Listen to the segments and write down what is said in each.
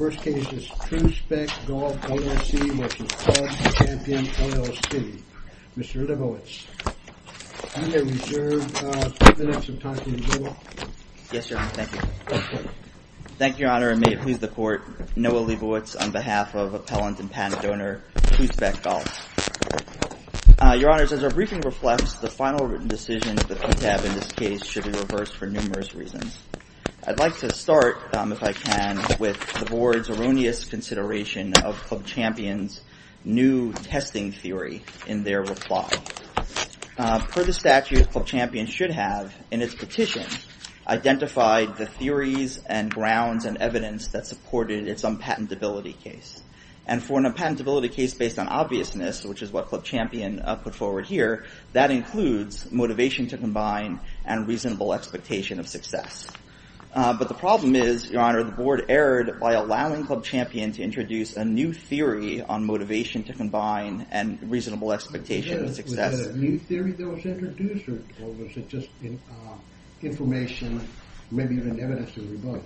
Noah Leibovitz, on behalf of Appellant and Patent Donor, True Spec Golf. Your Honors, as our briefing reflects, the final written decisions that we have in this case should be reversed for numerous reasons. I'd like to start, if I can, with the Board's erroneous consideration of Club Champion's new testing theory in their reply. Per the statute, Club Champion should have, in its petition, identified the theories and grounds and evidence that supported its unpatentability case. And for an unpatentability case based on obviousness, which is what Club Champion put forward here, that includes motivation to combine and reasonable expectation of success. But the problem is, Your Honor, the Board erred by allowing Club Champion to introduce a new theory on motivation to combine and reasonable expectation of success. Was that a new theory that was introduced, or was it just information, maybe even evidence to revoke?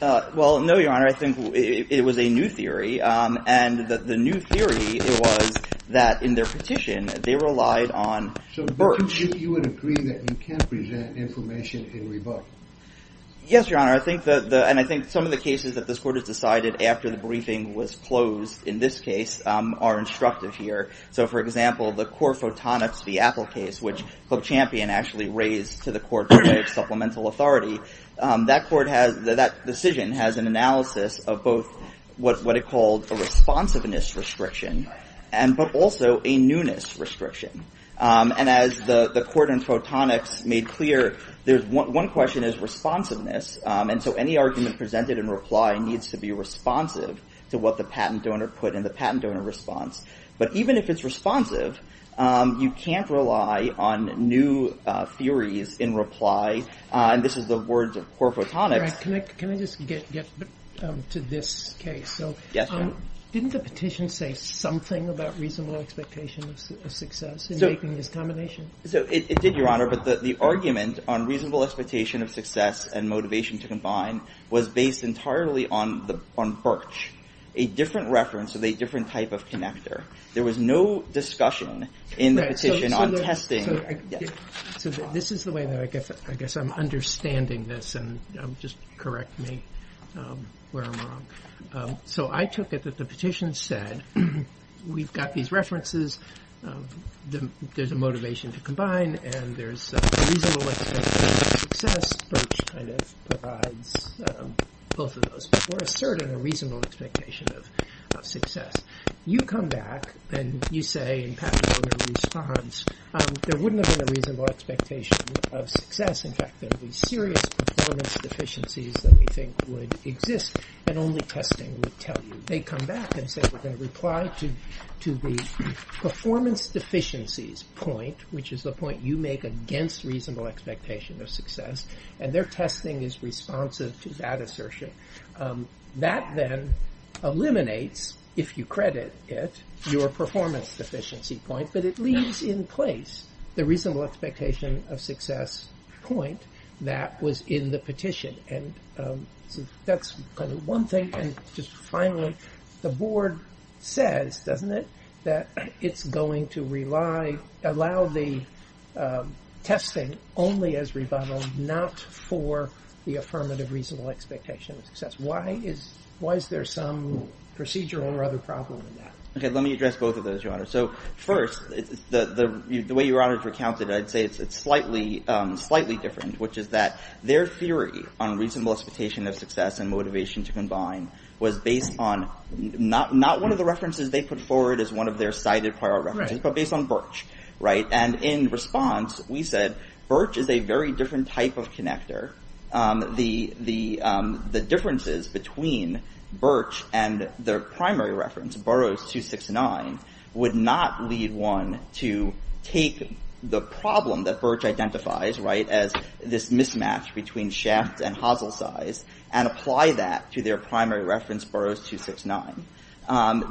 Well, no, Your Honor, I think it was a new theory. And the new theory was that, in their petition, they relied on BERT. So you would agree that you can't present information in rebuttal? Yes, Your Honor, and I think some of the cases that this Court has decided after the briefing was closed, in this case, are instructive here. So, for example, the Core Photonics v. Apple case, which Club Champion actually raised to the Court for Supplemental Authority, that decision has an analysis of both what it calls a responsiveness restriction, but also a newness restriction. And as the Court in Photonics made clear, one question is responsiveness. And so any argument presented in reply needs to be responsive to what the patent donor put in the patent donor response. But even if it's responsive, you can't rely on new theories in reply. And this is the words of Core Photonics. Can I just get to this case? Yes, sir. Didn't the petition say something about reasonable expectation of success in making this combination? It did, Your Honor, but the argument on reasonable expectation of success and motivation to combine was based entirely on BERT, a different reference of a different type of connector. There was no discussion in the petition on testing. So this is the way that I guess I'm understanding this, and just correct me where I'm wrong. So I took it that the petition said, we've got these references, there's a motivation to combine, and there's a reasonable expectation of success. BERT kind of provides both of those, but we're asserting a reasonable expectation of success. You come back and you say in patent donor response, there wouldn't have been a reasonable expectation of success. In fact, there would be serious performance deficiencies that we think would exist, and only testing would tell you. They come back and say, we're going to reply to the performance deficiencies point, which is the point you make against reasonable expectation of success, and their testing is responsive to that assertion. That then eliminates, if you credit it, your performance deficiency point, but it leaves in place the reasonable expectation of success point that was in the petition. And that's kind of one thing. And just finally, the board says, doesn't it, that it's going to rely, allow the testing only as rebuttal, not for the affirmative reasonable expectation of success. Why is there some procedural or other problem with that? Okay, let me address both of those, Your Honor. So first, the way Your Honor has recounted it, I'd say it's slightly different, which is that their theory on reasonable expectation of success and motivation to combine was based on not one of the references they put forward as one of their cited prior references, but based on Birch. And in response, we said, Birch is a very different type of connector. The differences between Birch and their primary reference, Burroughs 269, would not lead one to take the problem that Birch identifies as this mismatch between shaft and hosel size, and apply that to their primary reference, Burroughs 269.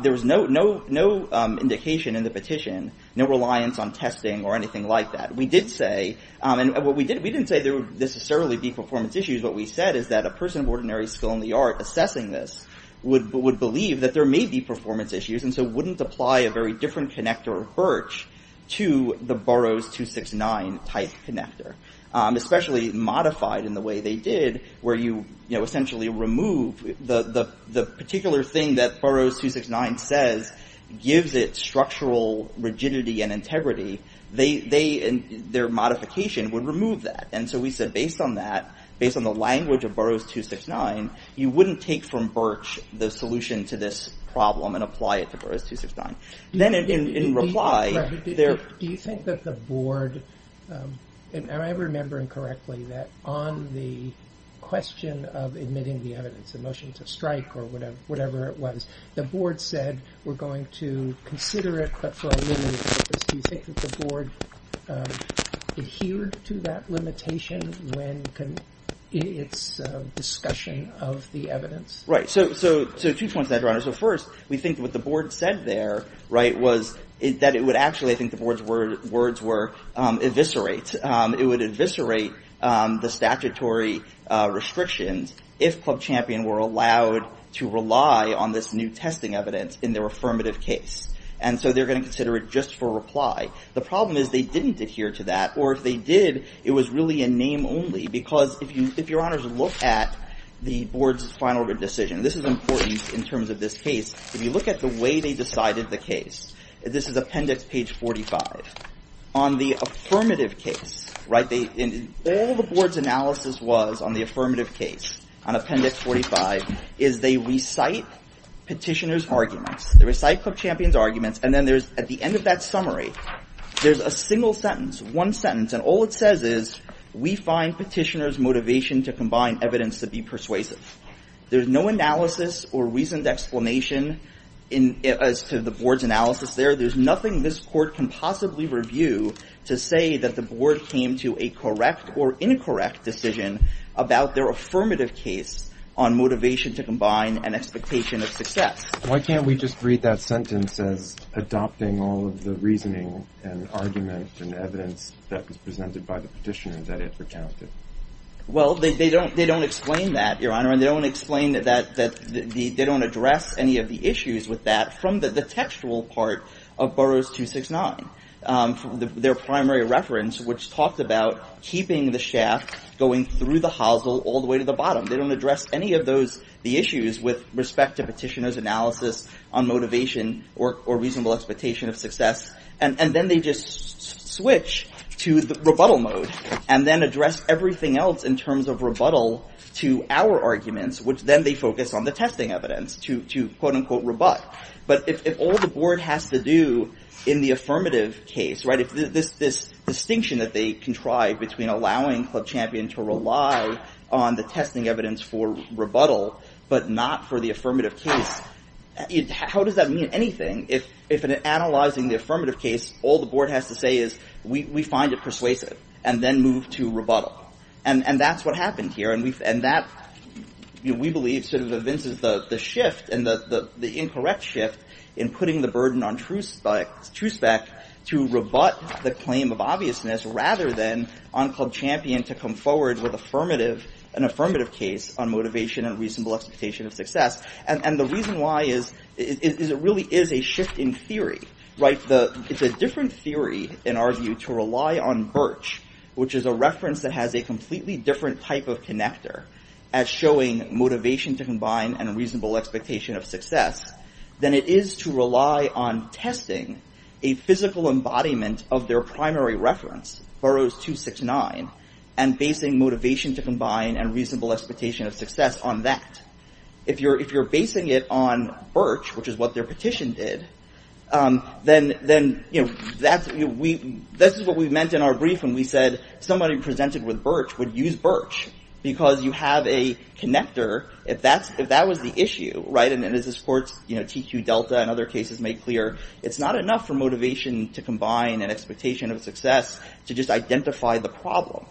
There was no indication in the petition, no reliance on testing or anything like that. We did say, and we didn't say there would necessarily be performance issues, what we said is that a person of ordinary skill in the art assessing this would believe that there may be performance issues, and so wouldn't apply a very different connector of Birch to the Burroughs 269 type connector. Especially modified in the way they did, where you essentially remove the particular thing that Burroughs 269 says gives it structural rigidity and integrity. Their modification would remove that. And so we said based on that, based on the language of Burroughs 269, you wouldn't take from Birch the solution to this problem and apply it to Burroughs 269. Then in reply, there... Do you think that the board, am I remembering correctly, that on the question of admitting the evidence, the motion to strike or whatever it was, the board said we're going to consider it but for a limited purpose. Do you think that the board adhered to that limitation in its discussion of the evidence? Right, so two points there, Your Honor. So first, we think what the board said there was that it would actually, I think the board's words were eviscerate. It would eviscerate the statutory restrictions if Club Champion were allowed to rely on this new testing evidence in their affirmative case. And so they're going to consider it just for reply. The problem is they didn't adhere to that, or if they did, it was really a name only. Because if Your Honors look at the board's final decision, this is important in terms of this case, if you look at the way they decided the case, this is appendix page 45, on the affirmative case, right, all the board's analysis was on the affirmative case on appendix 45 is they recite petitioner's arguments, they recite Club Champion's arguments, and then at the end of that summary, there's a single sentence, one sentence, and all it says is we find petitioner's motivation to combine evidence to be persuasive. There's no analysis or reasoned explanation as to the board's analysis there. There's nothing this court can possibly review to say that the board came to a correct or incorrect decision about their affirmative case on motivation to combine an expectation of success. Why can't we just read that sentence as adopting all of the reasoning and argument and evidence that was presented by the petitioner that it recounted? Well, they don't explain that, Your Honor, and they don't address any of the issues with that from the textual part of Burroughs 269, their primary reference, which talks about keeping the shaft going through the hosel all the way to the bottom. They don't address any of the issues with respect to petitioner's analysis on motivation or reasonable expectation of success, and then they just switch to rebuttal mode and then address everything else in terms of rebuttal to our arguments, which then they focus on the testing evidence to, quote-unquote, rebut. But if all the board has to do in the affirmative case, this distinction that they contrive between allowing Club Champion to rely on the testing evidence for rebuttal but not for the affirmative case, how does that mean anything? If in analyzing the affirmative case, all the board has to say is we find it persuasive and then move to rebuttal, and that's what happened here. And that, we believe, sort of evinces the shift and the incorrect shift in putting the burden on TruSpec to rebut the claim of obviousness rather than on Club Champion to come forward with an affirmative case on motivation and reasonable expectation of success. And the reason why is it really is a shift in theory, right? It's a different theory, in our view, to rely on Birch, which is a reference that has a completely different type of connector as showing motivation to combine and reasonable expectation of success than it is to rely on testing a physical embodiment of their primary reference, Burroughs 269, and basing motivation to combine and reasonable expectation of success on that. If you're basing it on Birch, which is what their petition did, then, you know, that's what we meant in our brief when we said somebody presented with Birch would use Birch because you have a connector. If that was the issue, right, and as this court's TQ Delta and other cases make clear, it's not enough for motivation to combine and expectation of success to just identify the problem.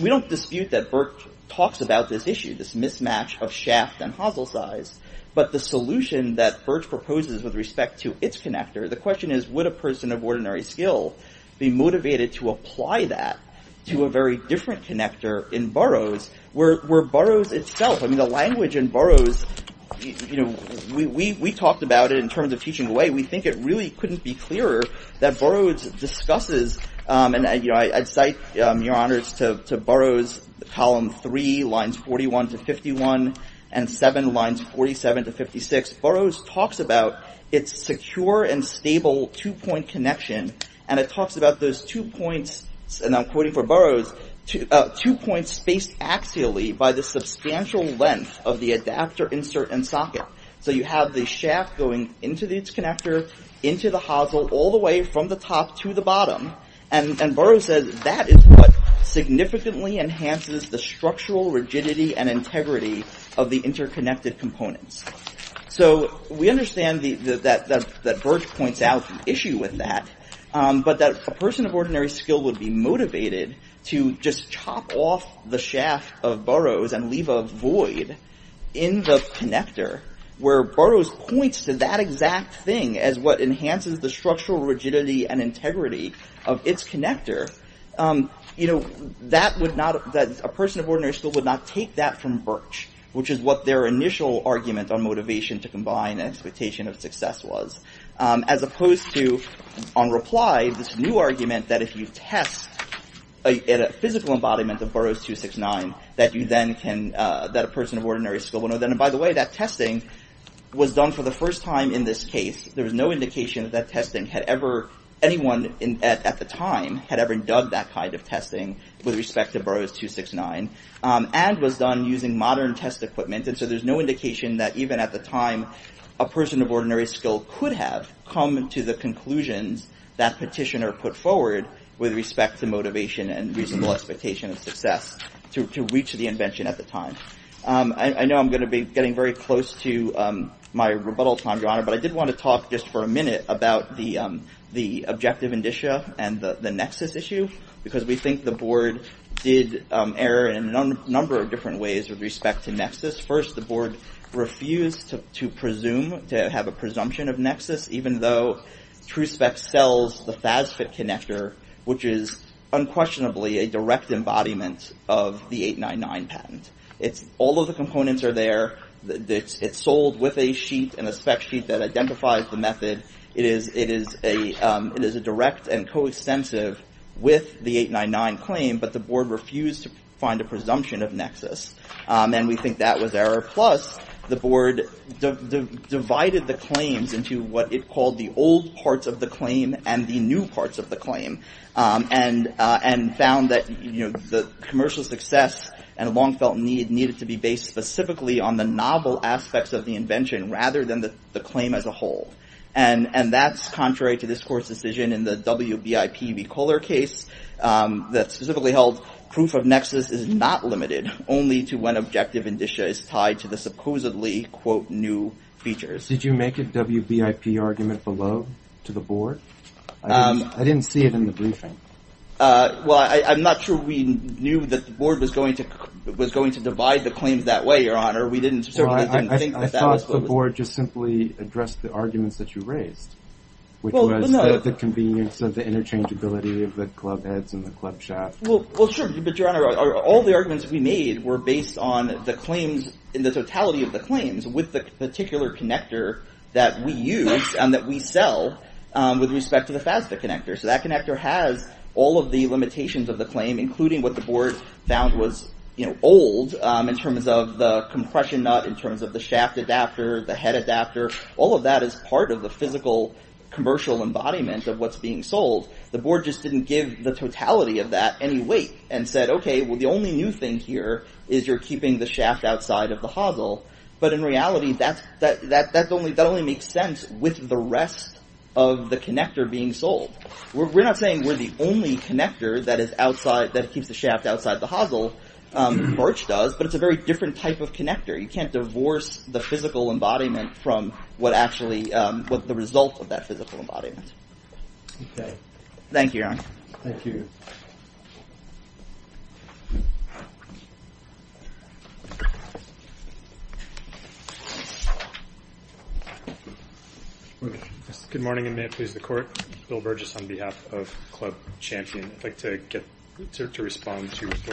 We don't dispute that Birch talks about this issue, this mismatch of shaft and hosel size, but the solution that Birch proposes with respect to its connector, the question is would a person of ordinary skill be motivated to apply that to a very different connector in Burroughs where Burroughs itself, I mean the language in Burroughs, you know, we talked about it in terms of teaching away, we think it really couldn't be clearer that Burroughs discusses, and I cite your honors to Burroughs column three, lines 41 to 51, and seven lines 47 to 56. Burroughs talks about its secure and stable two-point connection, and it talks about those two points, and I'm quoting from Burroughs, two points spaced axially by the substantial length of the adapter insert and socket. So you have the shaft going into the connector, into the hosel, all the way from the top to the bottom, and Burroughs says that is what enhances the structural rigidity and integrity of the interconnected components. So we understand that Birch points out the issue with that, but that a person of ordinary skill would be motivated to just chop off the shaft of Burroughs and leave a void in the connector where Burroughs points to that exact thing as what enhances the structural rigidity and integrity of its connector. A person of ordinary skill would not take that from Birch, which is what their initial argument on motivation to combine expectation of success was, as opposed to, on reply, this new argument that if you test a physical embodiment of Burroughs 269, that a person of ordinary skill would know. And by the way, that testing was done for the first time in this case. There was no indication that testing had ever, anyone at the time, had ever done that kind of testing with respect to Burroughs 269, and was done using modern test equipment, and so there's no indication that even at the time, a person of ordinary skill could have come to the conclusions that petitioner put forward with respect to motivation and reasonable expectation of success to reach the invention at the time. I know I'm going to be getting very close to my rebuttal time, Your Honor, but I did want to talk just for a minute about the objective indicia and the nexus issue, because we think the board did err in a number of different ways with respect to nexus. First, the board refused to presume, to have a presumption of nexus, even though TruSpec sells the FASFET connector, which is unquestionably a direct embodiment of the 899 patent. All of the components are there. It's sold with a sheet, and a spec sheet that identifies the method. It is a direct and coextensive with the 899 claim, but the board refused to find a presumption of nexus, and we think that was error. Plus, the board divided the claims into what it called the old parts of the claim and the new parts of the claim, and found that the commercial success and the long-felt need needed to be based specifically on the novel aspects of the invention rather than the claim as a whole. And that's contrary to this court's decision in the WBIP v. Kohler case that specifically held proof of nexus is not limited only to when objective indicia is tied to the supposedly, quote, new features. Did you make a WBIP argument below to the board? I didn't see it in the briefing. Well, I'm not sure we knew that the board was going to divide the claims that way, Your Honor. We certainly didn't think that that was supposed to happen. I thought the board just simply addressed the arguments that you raised, which was the convenience of the interchangeability of the club heads and the club shaft. Well, sure, but Your Honor, all the arguments we made were based on the claims, with the particular connector that we use and that we sell with respect to the FASTA connector. So that connector has all of the limitations of the claim, including what the board found was old in terms of the compression nut, in terms of the shaft adapter, the head adapter. All of that is part of the physical commercial embodiment of what's being sold. The board just didn't give the totality of that any weight and said, OK, well, the only new thing here is you're keeping the shaft outside of the hosel. But in reality, that only makes sense with the rest of the connector being sold. We're not saying we're the only connector that keeps the shaft outside the hosel. Birch does, but it's a very different type of connector. You can't divorce the physical embodiment from the result of that physical embodiment. Thank you, Your Honor. Thank you. Good morning, and may it please the Court. Bill Burgess on behalf of Club Champion. I'd like to respond to what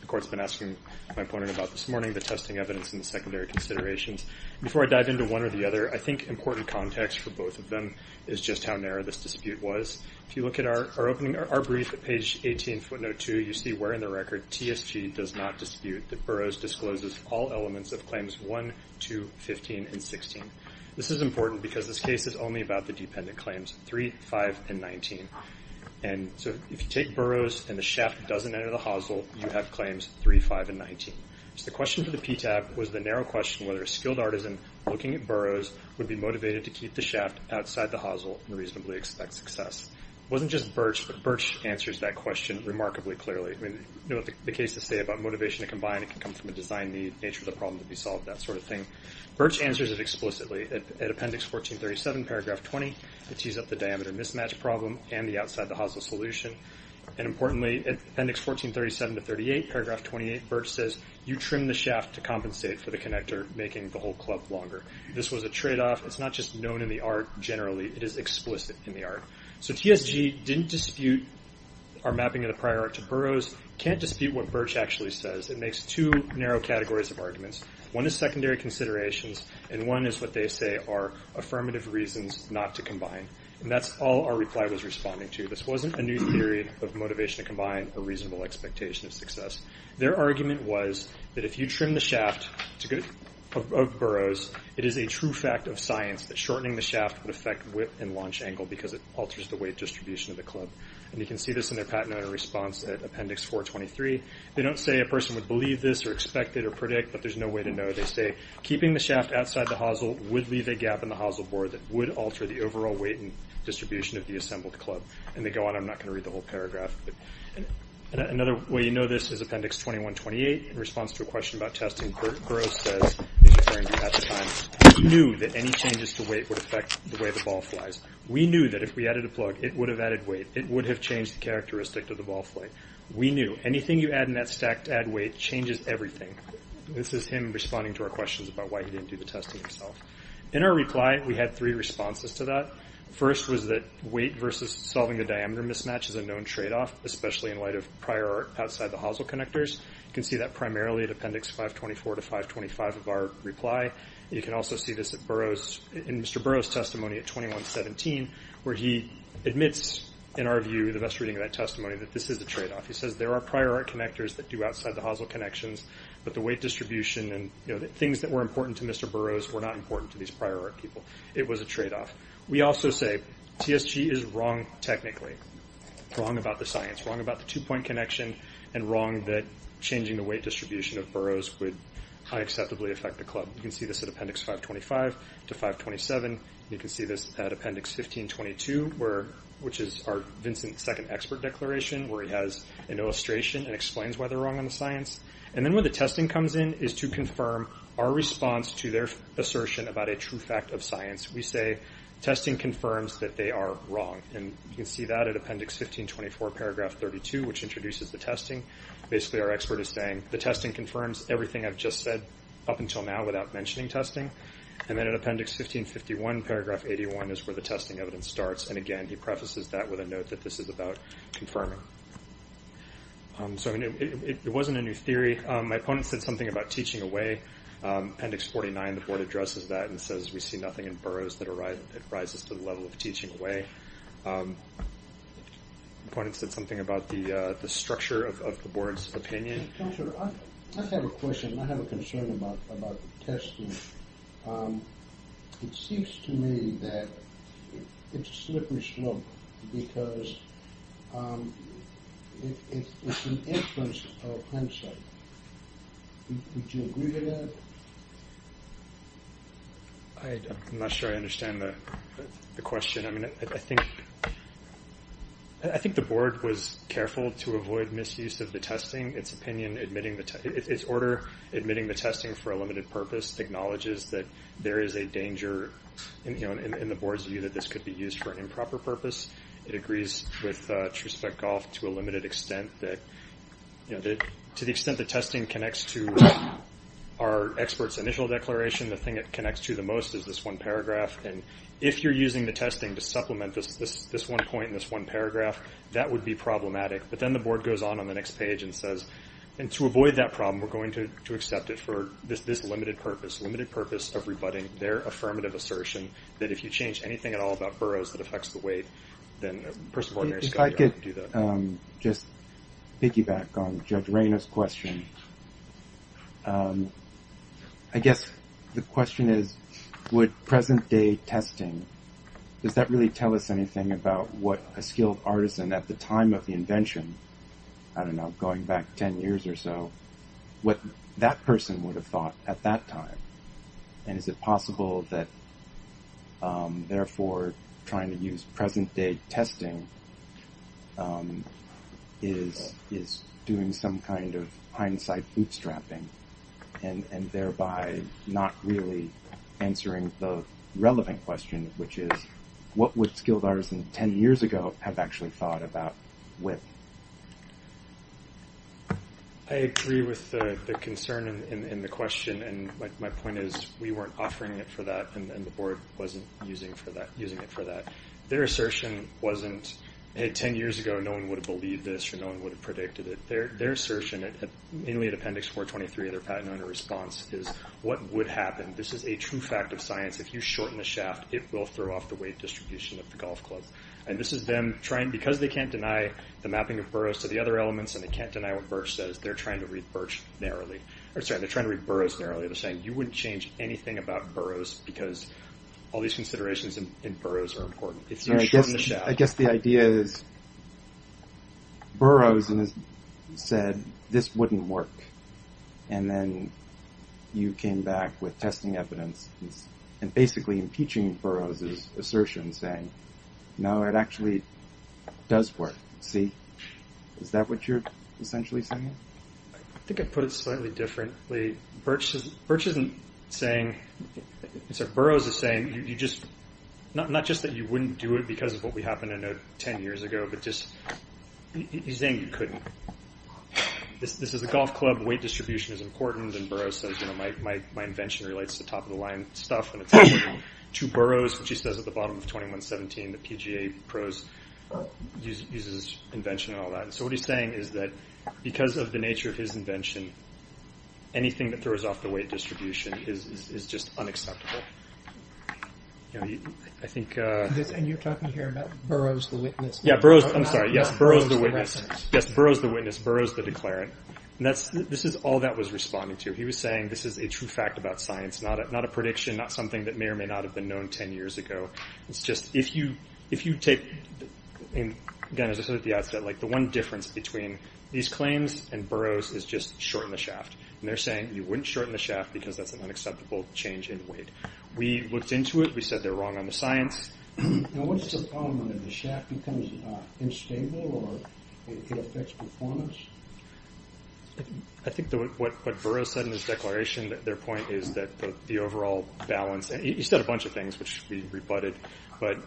the Court's been asking my opponent about this morning, the testing evidence and the secondary considerations. Before I dive into one or the other, I think important context for both of them is just how narrow this dispute was. If you look at our brief at page 18, footnote 2, you see where in the record TSG does not dispute that Burroughs discloses all elements of Claims 1, 2, 15, and 16. This is important because this case is only about the dependent claims 3, 5, and 19. And so if you take Burroughs and the shaft doesn't enter the hosel, you have Claims 3, 5, and 19. So the question for the PTAB was the narrow question whether a skilled artisan looking at Burroughs would be motivated to keep the shaft outside the hosel and reasonably expect success. It wasn't just Birch, but Birch answers that question remarkably clearly. You know what the cases say about motivation to combine. It can come from a design need, nature of the problem to be solved, that sort of thing. Birch answers it explicitly at Appendix 1437, paragraph 20. It tees up the diameter mismatch problem and the outside the hosel solution. And importantly, at Appendix 1437 to 38, paragraph 28, Birch says, you trim the shaft to compensate for the connector making the whole club longer. This was a tradeoff. It's not just known in the art generally. It is explicit in the art. So TSG didn't dispute our mapping of the prior art to Burroughs, can't dispute what Birch actually says. It makes two narrow categories of arguments. One is secondary considerations, and one is what they say are affirmative reasons not to combine. And that's all our reply was responding to. Their argument was that if you trim the shaft of Burroughs, it is a true fact of science that shortening the shaft would affect whip and launch angle because it alters the weight distribution of the club. And you can see this in their patented response at Appendix 423. They don't say a person would believe this or expect it or predict, but there's no way to know. They say keeping the shaft outside the hosel would leave a gap in the hosel board that would alter the overall weight and distribution of the assembled club. And they go on. I'm not going to read the whole paragraph. Another way you know this is Appendix 2128. In response to a question about testing, Burroughs says, he knew that any changes to weight would affect the way the ball flies. We knew that if we added a plug, it would have added weight. It would have changed the characteristic of the ball flight. We knew anything you add in that stack to add weight changes everything. This is him responding to our questions about why he didn't do the testing himself. In our reply, we had three responses to that. First was that weight versus solving the diameter mismatch is a known tradeoff, especially in light of prior art outside the hosel connectors. You can see that primarily at Appendix 524 to 525 of our reply. You can also see this in Mr. Burroughs' testimony at 2117 where he admits, in our view, the best reading of that testimony, that this is a tradeoff. He says there are prior art connectors that do outside the hosel connections, but the weight distribution and things that were important to Mr. Burroughs were not important to these prior art people. It was a tradeoff. We also say TSG is wrong technically, wrong about the science, wrong about the two-point connection, and wrong that changing the weight distribution of Burroughs would unacceptably affect the club. You can see this at Appendix 525 to 527. You can see this at Appendix 1522, which is our Vincent's second expert declaration where he has an illustration and explains why they're wrong on the science. Then where the testing comes in is to confirm our response to their assertion about a true fact of science. We say testing confirms that they are wrong. You can see that at Appendix 1524, Paragraph 32, which introduces the testing. Basically, our expert is saying the testing confirms everything I've just said up until now without mentioning testing. Then at Appendix 1551, Paragraph 81, is where the testing evidence starts. Again, he prefaces that with a note that this is about confirming. It wasn't a new theory. My opponent said something about teaching away. Appendix 49, the board addresses that and says we see nothing in Burroughs that rises to the level of teaching away. My opponent said something about the structure of the board's opinion. I have a question. I have a concern about testing. It seems to me that it's a slippery slope because it's an inference of hindsight. Would you agree to that? I'm not sure I understand the question. I think the board was careful to avoid misuse of the testing. Its order, admitting the testing for a limited purpose, acknowledges that there is a danger in the board's view that this could be used for an improper purpose. It agrees with TruSpecGolf to a limited extent. To the extent that testing connects to our expert's initial declaration, the thing it connects to the most is this one paragraph. If you're using the testing to supplement this one point in this one paragraph, that would be problematic. But then the board goes on on the next page and says, to avoid that problem we're going to accept it for this limited purpose, a limited purpose of rebutting their affirmative assertion that if you change anything at all about Burroughs that affects the weight, then a person born near Scotty Island would do that. If I could just piggyback on Judge Rainer's question. I guess the question is would present-day testing, does that really tell us anything about what a skilled artisan at the time of the invention, I don't know, going back ten years or so, what that person would have thought at that time? And is it possible that, therefore, trying to use present-day testing is doing some kind of hindsight bootstrapping, and thereby not really answering the relevant question, which is what would skilled artisans ten years ago have actually thought about WIP? I agree with the concern in the question, and my point is we weren't offering it for that, and the board wasn't using it for that. Their assertion wasn't, hey, ten years ago, no one would have believed this or no one would have predicted it. Their assertion, mainly at Appendix 423 of their patent owner response, is what would happen? This is a true fact of science. If you shorten the shaft, it will throw off the weight distribution of the golf club. And this is them trying, because they can't deny the mapping of Burroughs to the other elements, and they can't deny what Burch says, they're trying to read Burroughs narrowly. They're saying you wouldn't change anything about Burroughs because all these I guess the idea is Burroughs said this wouldn't work, and then you came back with testing evidence, and basically impeaching Burroughs' assertion saying, no, it actually does work. See? Is that what you're essentially saying? I think I put it slightly differently. Burch isn't saying, Burroughs is saying, not just that you wouldn't do it because of what we happened to know 10 years ago, but just he's saying you couldn't. This is a golf club, weight distribution is important, and Burroughs says, you know, my invention relates to top-of-the-line stuff, and it's only two Burroughs, which he says at the bottom of 2117, the PGA pros uses invention and all that. So what he's saying is that because of the nature of his invention, anything that throws off the weight distribution is just unacceptable. I think... And you're talking here about Burroughs the witness. Yeah, Burroughs, I'm sorry. Yes, Burroughs the witness. Burroughs the witness. Burroughs the declarant. This is all that was responding to. He was saying this is a true fact about science, not a prediction, not something that may or may not have been known 10 years ago. It's just, if you take, again, as I said at the outset, like the one difference between these claims and Burroughs is just shorten the shaft. And they're saying you wouldn't shorten the shaft because that's an unacceptable change in weight. We looked into it. We said they're wrong on the science. Now, what's the problem when the shaft becomes instable or it affects performance? I think what Burroughs said in his declaration, their point is that the overall balance, he said a bunch of things, which we rebutted. But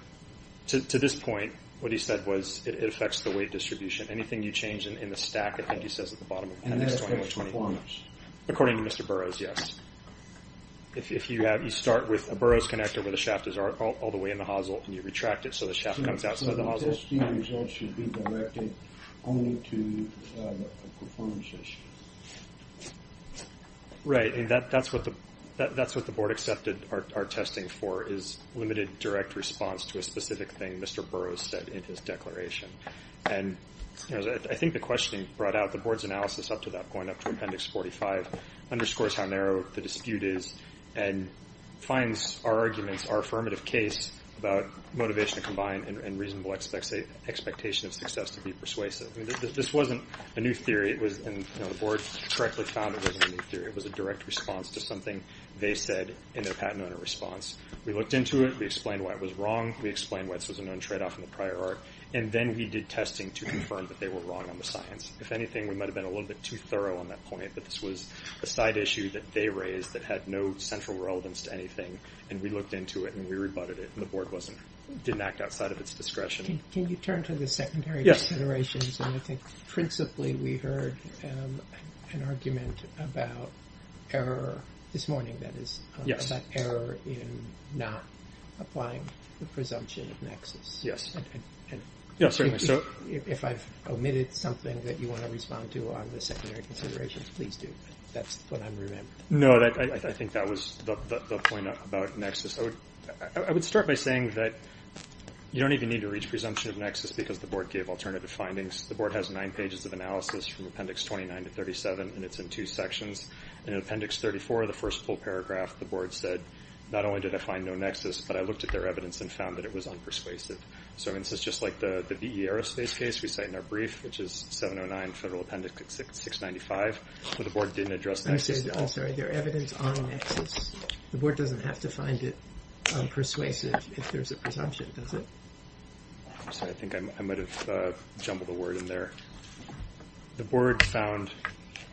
to this point, what he said was it affects the weight distribution. Anything you change in the stack, I think he says at the bottom. And that affects performance. According to Mr. Burroughs, yes. If you start with a Burroughs connector where the shaft is all the way in the hosel, and you retract it so the shaft comes outside the hosel. So the testing results should be directed only to the performance issue. Right. That's what the board accepted our testing for, is limited direct response to a specific thing. Mr. Burroughs said in his declaration. And I think the question he brought out, the board's analysis up to that point, up to Appendix 45, underscores how narrow the dispute is and finds our arguments, our affirmative case about motivation to combine and reasonable expectation of success to be persuasive. This wasn't a new theory. The board correctly found it wasn't a new theory. It was a direct response to something they said in their patent owner response. We looked into it. We explained why it was wrong. We explained why this was a known tradeoff in the prior art. And then we did testing to confirm that they were wrong on the science. If anything, we might have been a little bit too thorough on that point. But this was a side issue that they raised that had no central relevance to anything. And we looked into it and we rebutted it. And the board didn't act outside of its discretion. Can you turn to the secondary considerations? And I think principally we heard an argument about error this morning, that is, that error in not applying the presumption of nexus. Yes, certainly. If I've omitted something that you want to respond to on the secondary considerations, please do. That's what I'm remembering. No, I think that was the point about nexus. I would start by saying that you don't even need to reach presumption of nexus because the board gave alternative findings. The board has nine pages of analysis from Appendix 29 to 37, and it's in two sections. In Appendix 34, the first full paragraph, the board said, not only did I find no nexus, but I looked at their evidence and found that it was unpersuasive. So this is just like the VE Aerospace case we cite in our brief, which is 709 Federal Appendix 695, where the board didn't address nexus at all. I'm sorry. They're evidence on nexus. The board doesn't have to find it persuasive if there's a presumption, does it? I'm sorry. I think I might have jumbled a word in there. The board found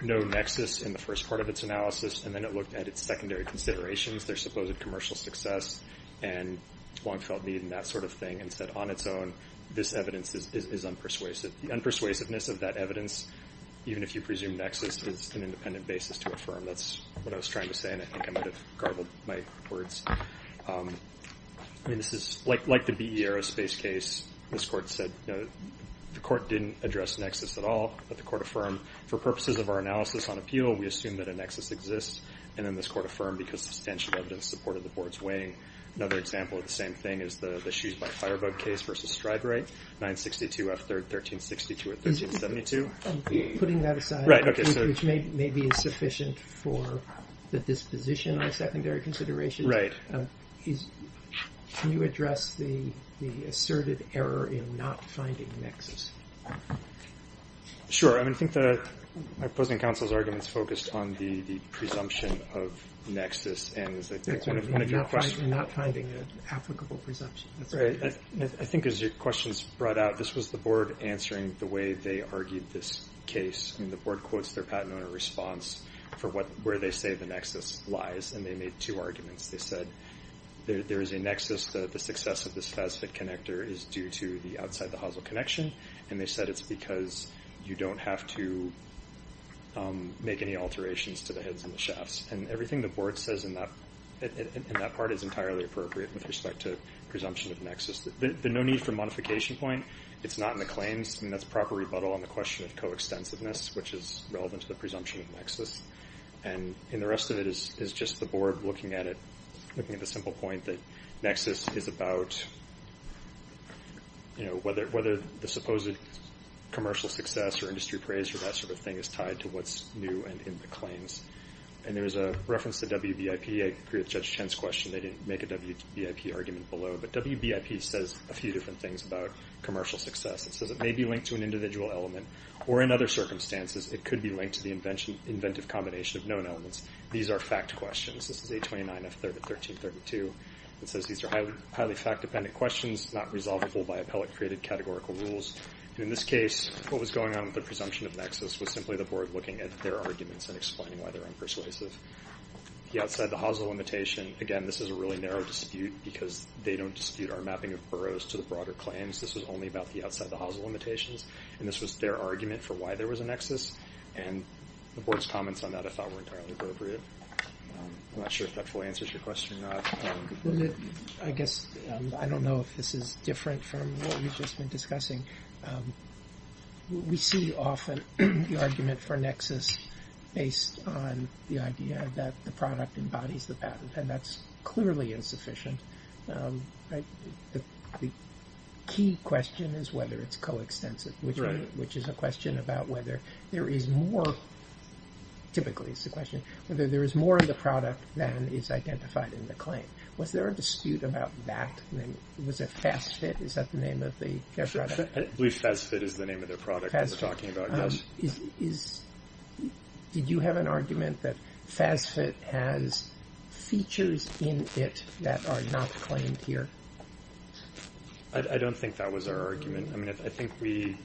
no nexus in the first part of its analysis, and then it looked at its secondary considerations, their supposed commercial success and long-felt need and that sort of thing, and said on its own this evidence is unpersuasive. The unpersuasiveness of that evidence, even if you presume nexus, is an independent basis to affirm. That's what I was trying to say, and I think I might have garbled my words. I mean, this is like the VE Aerospace case. This court said the court didn't address nexus at all, but the court affirmed, for purposes of our analysis on appeal, we assume that a nexus exists, and then this court affirmed because substantial evidence supported the board's weighing. Another example of the same thing is the shoes-by-firebug case versus Striderate, 962 F. 1362 or 1372. Putting that aside, which maybe is sufficient for the disposition on secondary consideration, can you address the asserted error in not finding nexus? Sure. I mean, I think my opposing counsel's argument is focused on the presumption of nexus, and as I think one of your questions. Not finding an applicable presumption. That's right. I think as your questions brought out, this was the board answering the way they argued this case. I mean, the board quotes their patent owner response for where they say the nexus lies, and they made two arguments. They said there is a nexus. The success of this FASFET connector is due to the outside the hosel connection, and they said it's because you don't have to make any alterations to the heads and the shafts. And everything the board says in that part is entirely appropriate with respect to presumption of nexus. The no need for modification point, it's not in the claims. I mean, that's a proper rebuttal on the question of coextensiveness, which is relevant to the presumption of nexus. And the rest of it is just the board looking at it, looking at the simple point that nexus is about, you know, whether the supposed commercial success or industry praise or that sort of thing is tied to what's new and in the claims. And there was a reference to WBIP. I agree with Judge Chen's question. They didn't make a WBIP argument below, but WBIP says a few different things about commercial success. It says it may be linked to an individual element, or in other circumstances, it could be linked to the inventive combination of known elements. These are fact questions. This is 829F 1332. It says these are highly fact-dependent questions, not resolvable by appellate-created categorical rules. In this case, what was going on with the presumption of nexus was simply the board looking at their arguments and explaining why they're unpersuasive. The outside the hosel limitation, again, this is a really narrow dispute because they don't dispute our mapping of boroughs to the broader claims. This was only about the outside the hosel limitations, and this was their argument for why there was a nexus, and the board's comments on that I thought were entirely appropriate. I'm not sure if that fully answers your question or not. I guess I don't know if this is different from what we've just been discussing. We see often the argument for nexus based on the idea that the product embodies the patent, and that's clearly insufficient. The key question is whether it's coextensive, which is a question about whether there is more of the product than is identified in the claim. Was there a dispute about that? Was it FASFIT? Is that the name of their product? I believe FASFIT is the name of their product that we're talking about, yes. Did you have an argument that FASFIT has features in it that are not claimed here? I don't think that was our argument. I think we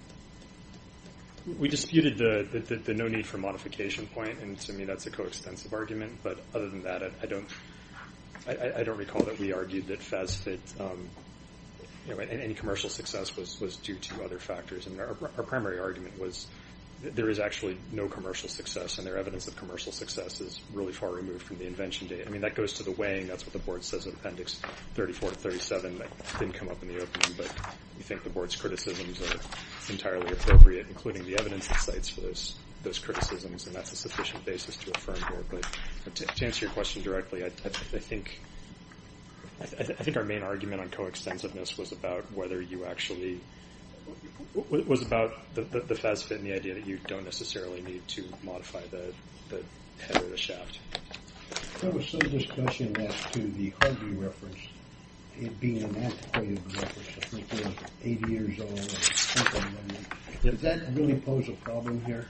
disputed the no need for modification point, and to me that's a coextensive argument, but other than that I don't recall that we argued that FASFIT, any commercial success was due to other factors. Our primary argument was that there is actually no commercial success, and their evidence of commercial success is really far removed from the invention data. That goes to the weighing. That's what the Board says in Appendix 34 and 37. It didn't come up in the opening, but we think the Board's criticisms are entirely appropriate, including the evidence it cites for those criticisms, and that's a sufficient basis to affirm here. To answer your question directly, I think our main argument on coextensiveness was about the FASFIT and the idea that you don't necessarily need to modify the head of the shaft. There was some discussion as to the Harvey reference being an antiquated reference. I think it was 80 years old. Does that really pose a problem here?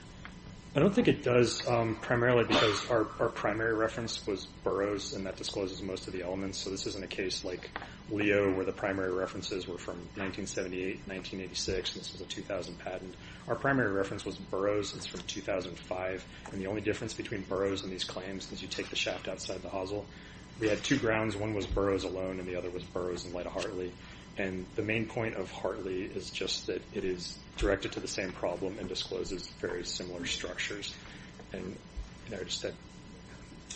I don't think it does, primarily because our primary reference was Burroughs, and that discloses most of the elements, so this isn't a case like Leo where the primary references were from 1978, 1986, and this was a 2000 patent. Our primary reference was Burroughs. It's from 2005, and the only difference between Burroughs and these claims is you take the shaft outside the hosel. We had two grounds. One was Burroughs alone, and the other was Burroughs in light of Hartley, and the main point of Hartley is just that it is directed to the same problem and discloses very similar structures.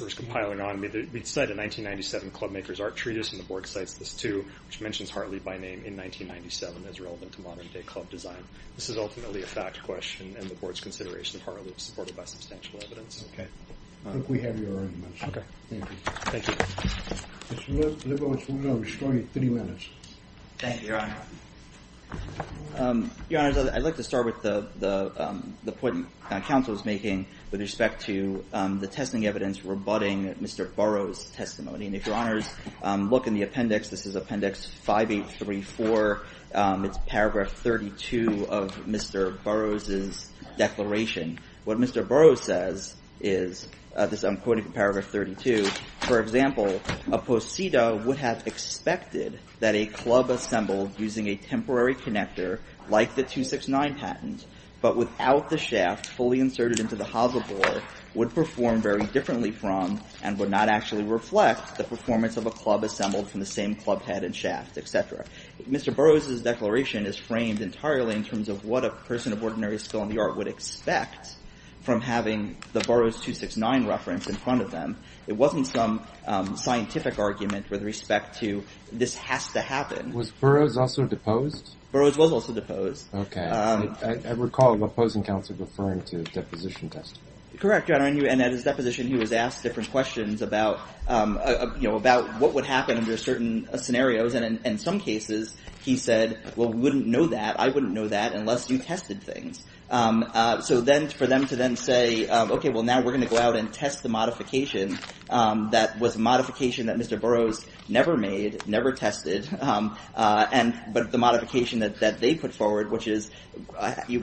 There was compiling on. We cite a 1997 Clubmakers Art Treatise, and the Board cites this too, which mentions Hartley by name in 1997 as relevant to modern-day club design. This is ultimately a fact question, and the Board's consideration of Hartley is supported by substantial evidence. Okay. I think we have your arguments. Okay. Thank you. Thank you. Mr. Lippowitz, we're going to destroy you in 30 minutes. Thank you, Your Honor. Your Honor, I'd like to start with the point the counsel is making with respect to the testing evidence rebutting Mr. Burroughs' testimony, and if Your Honors look in the appendix, this is Appendix 5834. It's Paragraph 32 of Mr. Burroughs' declaration. What Mr. Burroughs says is, this I'm quoting from Paragraph 32, for example, a posita would have expected that a club assembled using a temporary connector, like the 269 patent, but without the shaft fully inserted into the hosel bore, would perform very differently from, and would not actually reflect, the performance of a club assembled from the same club head and shaft, et cetera. Mr. Burroughs' declaration is framed entirely in terms of what a person of ordinary skill in the art would expect from having the Burroughs 269 reference in front of them. It wasn't some scientific argument with respect to this has to happen. Was Burroughs also deposed? Burroughs was also deposed. Okay. I recall the opposing counsel referring to deposition testimony. Correct, Your Honor. And at his deposition, he was asked different questions about, you know, about what would happen under certain scenarios. And in some cases, he said, well, we wouldn't know that. I wouldn't know that unless you tested things. So then for them to then say, okay, well, now we're going to go out and test the modification that was a modification that Mr. Burroughs never made, never tested, but the modification that they put forward, which is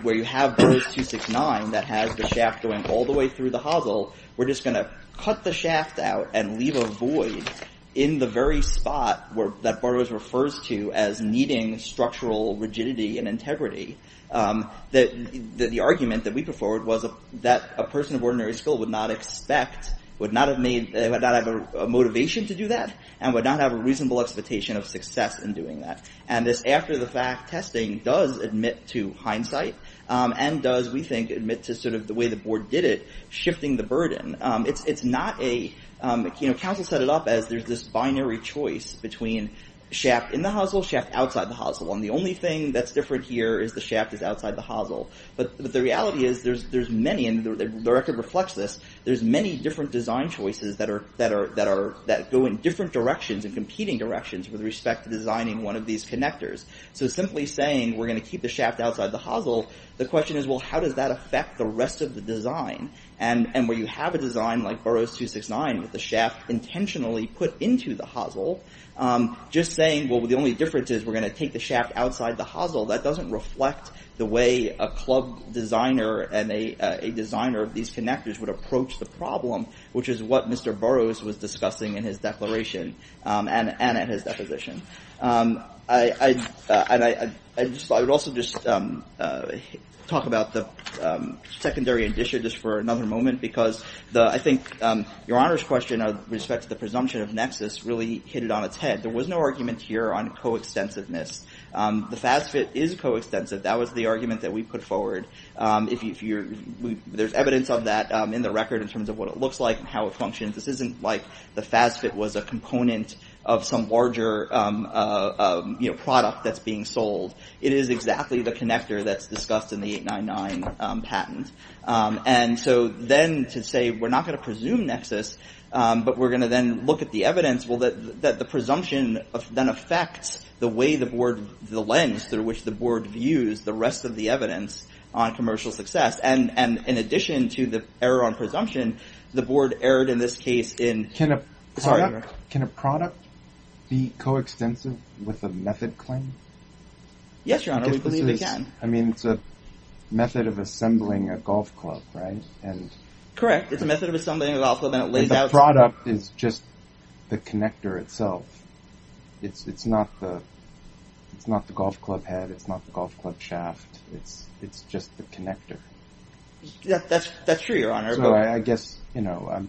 where you have Burroughs 269 that has the shaft going all the way through the hosel. We're just going to cut the shaft out and leave a void in the very spot that Burroughs refers to as needing structural rigidity and integrity. The argument that we put forward was that a person of ordinary skill would not expect, would not have made, would not have a motivation to do that and would not have a reasonable expectation of success in doing that. And this after-the-fact testing does admit to hindsight and does, we think, admit to sort of the way the board did it, shifting the burden. It's not a, you know, counsel set it up as there's this binary choice between shaft in the hosel, shaft outside the hosel. And the only thing that's different here is the shaft is outside the hosel. But the reality is there's many, and the record reflects this, there's many different design choices that go in different directions and competing directions with respect to designing one of these connectors. So simply saying we're going to keep the shaft outside the hosel, the question is, well, how does that affect the rest of the design? And where you have a design like Burroughs 269 with the shaft intentionally put into the hosel, just saying, well, the only difference is we're going to take the shaft outside the hosel, that doesn't reflect the way a club designer and a designer of these connectors would approach the problem, which is what Mr. Burroughs was discussing in his declaration and at his deposition. I would also just talk about the secondary addition just for another moment, because I think Your Honor's question with respect to the presumption of nexus really hit it on its head. There was no argument here on coextensiveness. The FASFET is coextensive. That was the argument that we put forward. There's evidence of that in the record in terms of what it looks like and how it functions. This isn't like the FASFET was a component of some larger product that's being sold. It is exactly the connector that's discussed in the 899 patent. And so then to say we're not going to presume nexus, but we're going to then look at the evidence, well, the presumption then affects the way the board, the lens through which the board views the rest of the evidence on commercial success. And in addition to the error on presumption, the board erred in this case in – Can a product be coextensive with a method claim? Yes, Your Honor. We believe it can. I mean, it's a method of assembling a golf club, right? Correct. It's a method of assembling a golf club and it lays out – The product is just the connector itself. It's not the golf club head. It's not the golf club shaft. It's just the connector. That's true, Your Honor. So I guess, you know,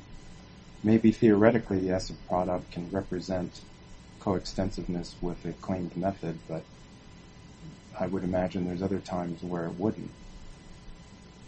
maybe theoretically, yes, a product can represent coextensiveness with a claimed method, but I would imagine there's other times where it wouldn't.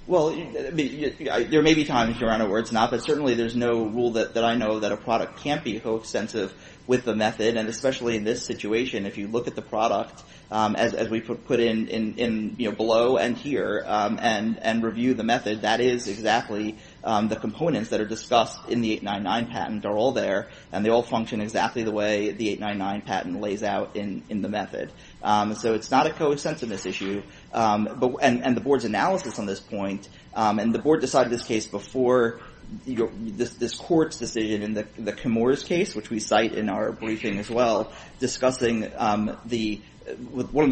Well, there may be times, Your Honor, where it's not, but certainly there's no rule that I know that a product can't be coextensive with a method. And especially in this situation, if you look at the product, as we put in below and here and review the method, that is exactly the components that are discussed in the 899 patent are all there, and they all function exactly the way the 899 patent lays out in the method. So it's not a coextensiveness issue. And the board's analysis on this point, and the board decided this case before this court's decision in the Camorra's case, which we cite in our briefing as well, discussing one of the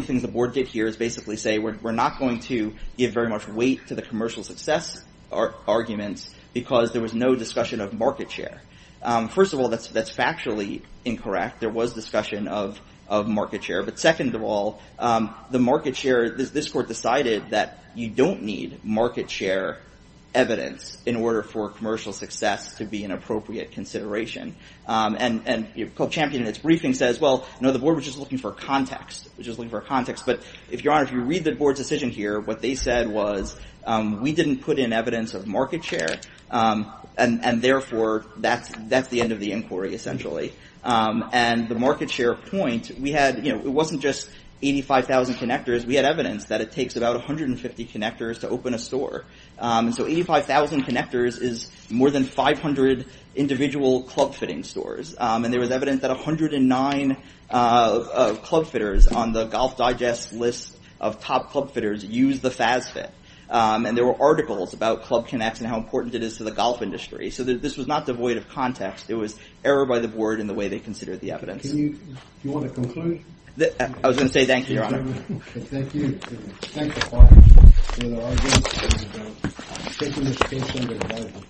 things the board did here is basically say, we're not going to give very much weight to the commercial success arguments because there was no discussion of market share. First of all, that's factually incorrect. There was discussion of market share. But second of all, the market share, this court decided that you don't need market share evidence in order for commercial success to be an appropriate consideration. And Co-Champion, in its briefing, says, well, no, the board was just looking for context. It was just looking for context. But, Your Honor, if you read the board's decision here, what they said was we didn't put in evidence of market share, and therefore that's the end of the inquiry, essentially. And the market share point, we had, you know, it wasn't just 85,000 connectors. We had evidence that it takes about 150 connectors to open a store. And so 85,000 connectors is more than 500 individual club fitting stores. And there was evidence that 109 club fitters on the Golf Digest list of top club fitters used the FazFit. And there were articles about club connects and how important it is to the golf industry. So this was not devoid of context. It was error by the board in the way they considered the evidence. Do you want a conclusion? I was going to say thank you, Your Honor. Thank you. Thank the Congress. Thank you, Your Honor.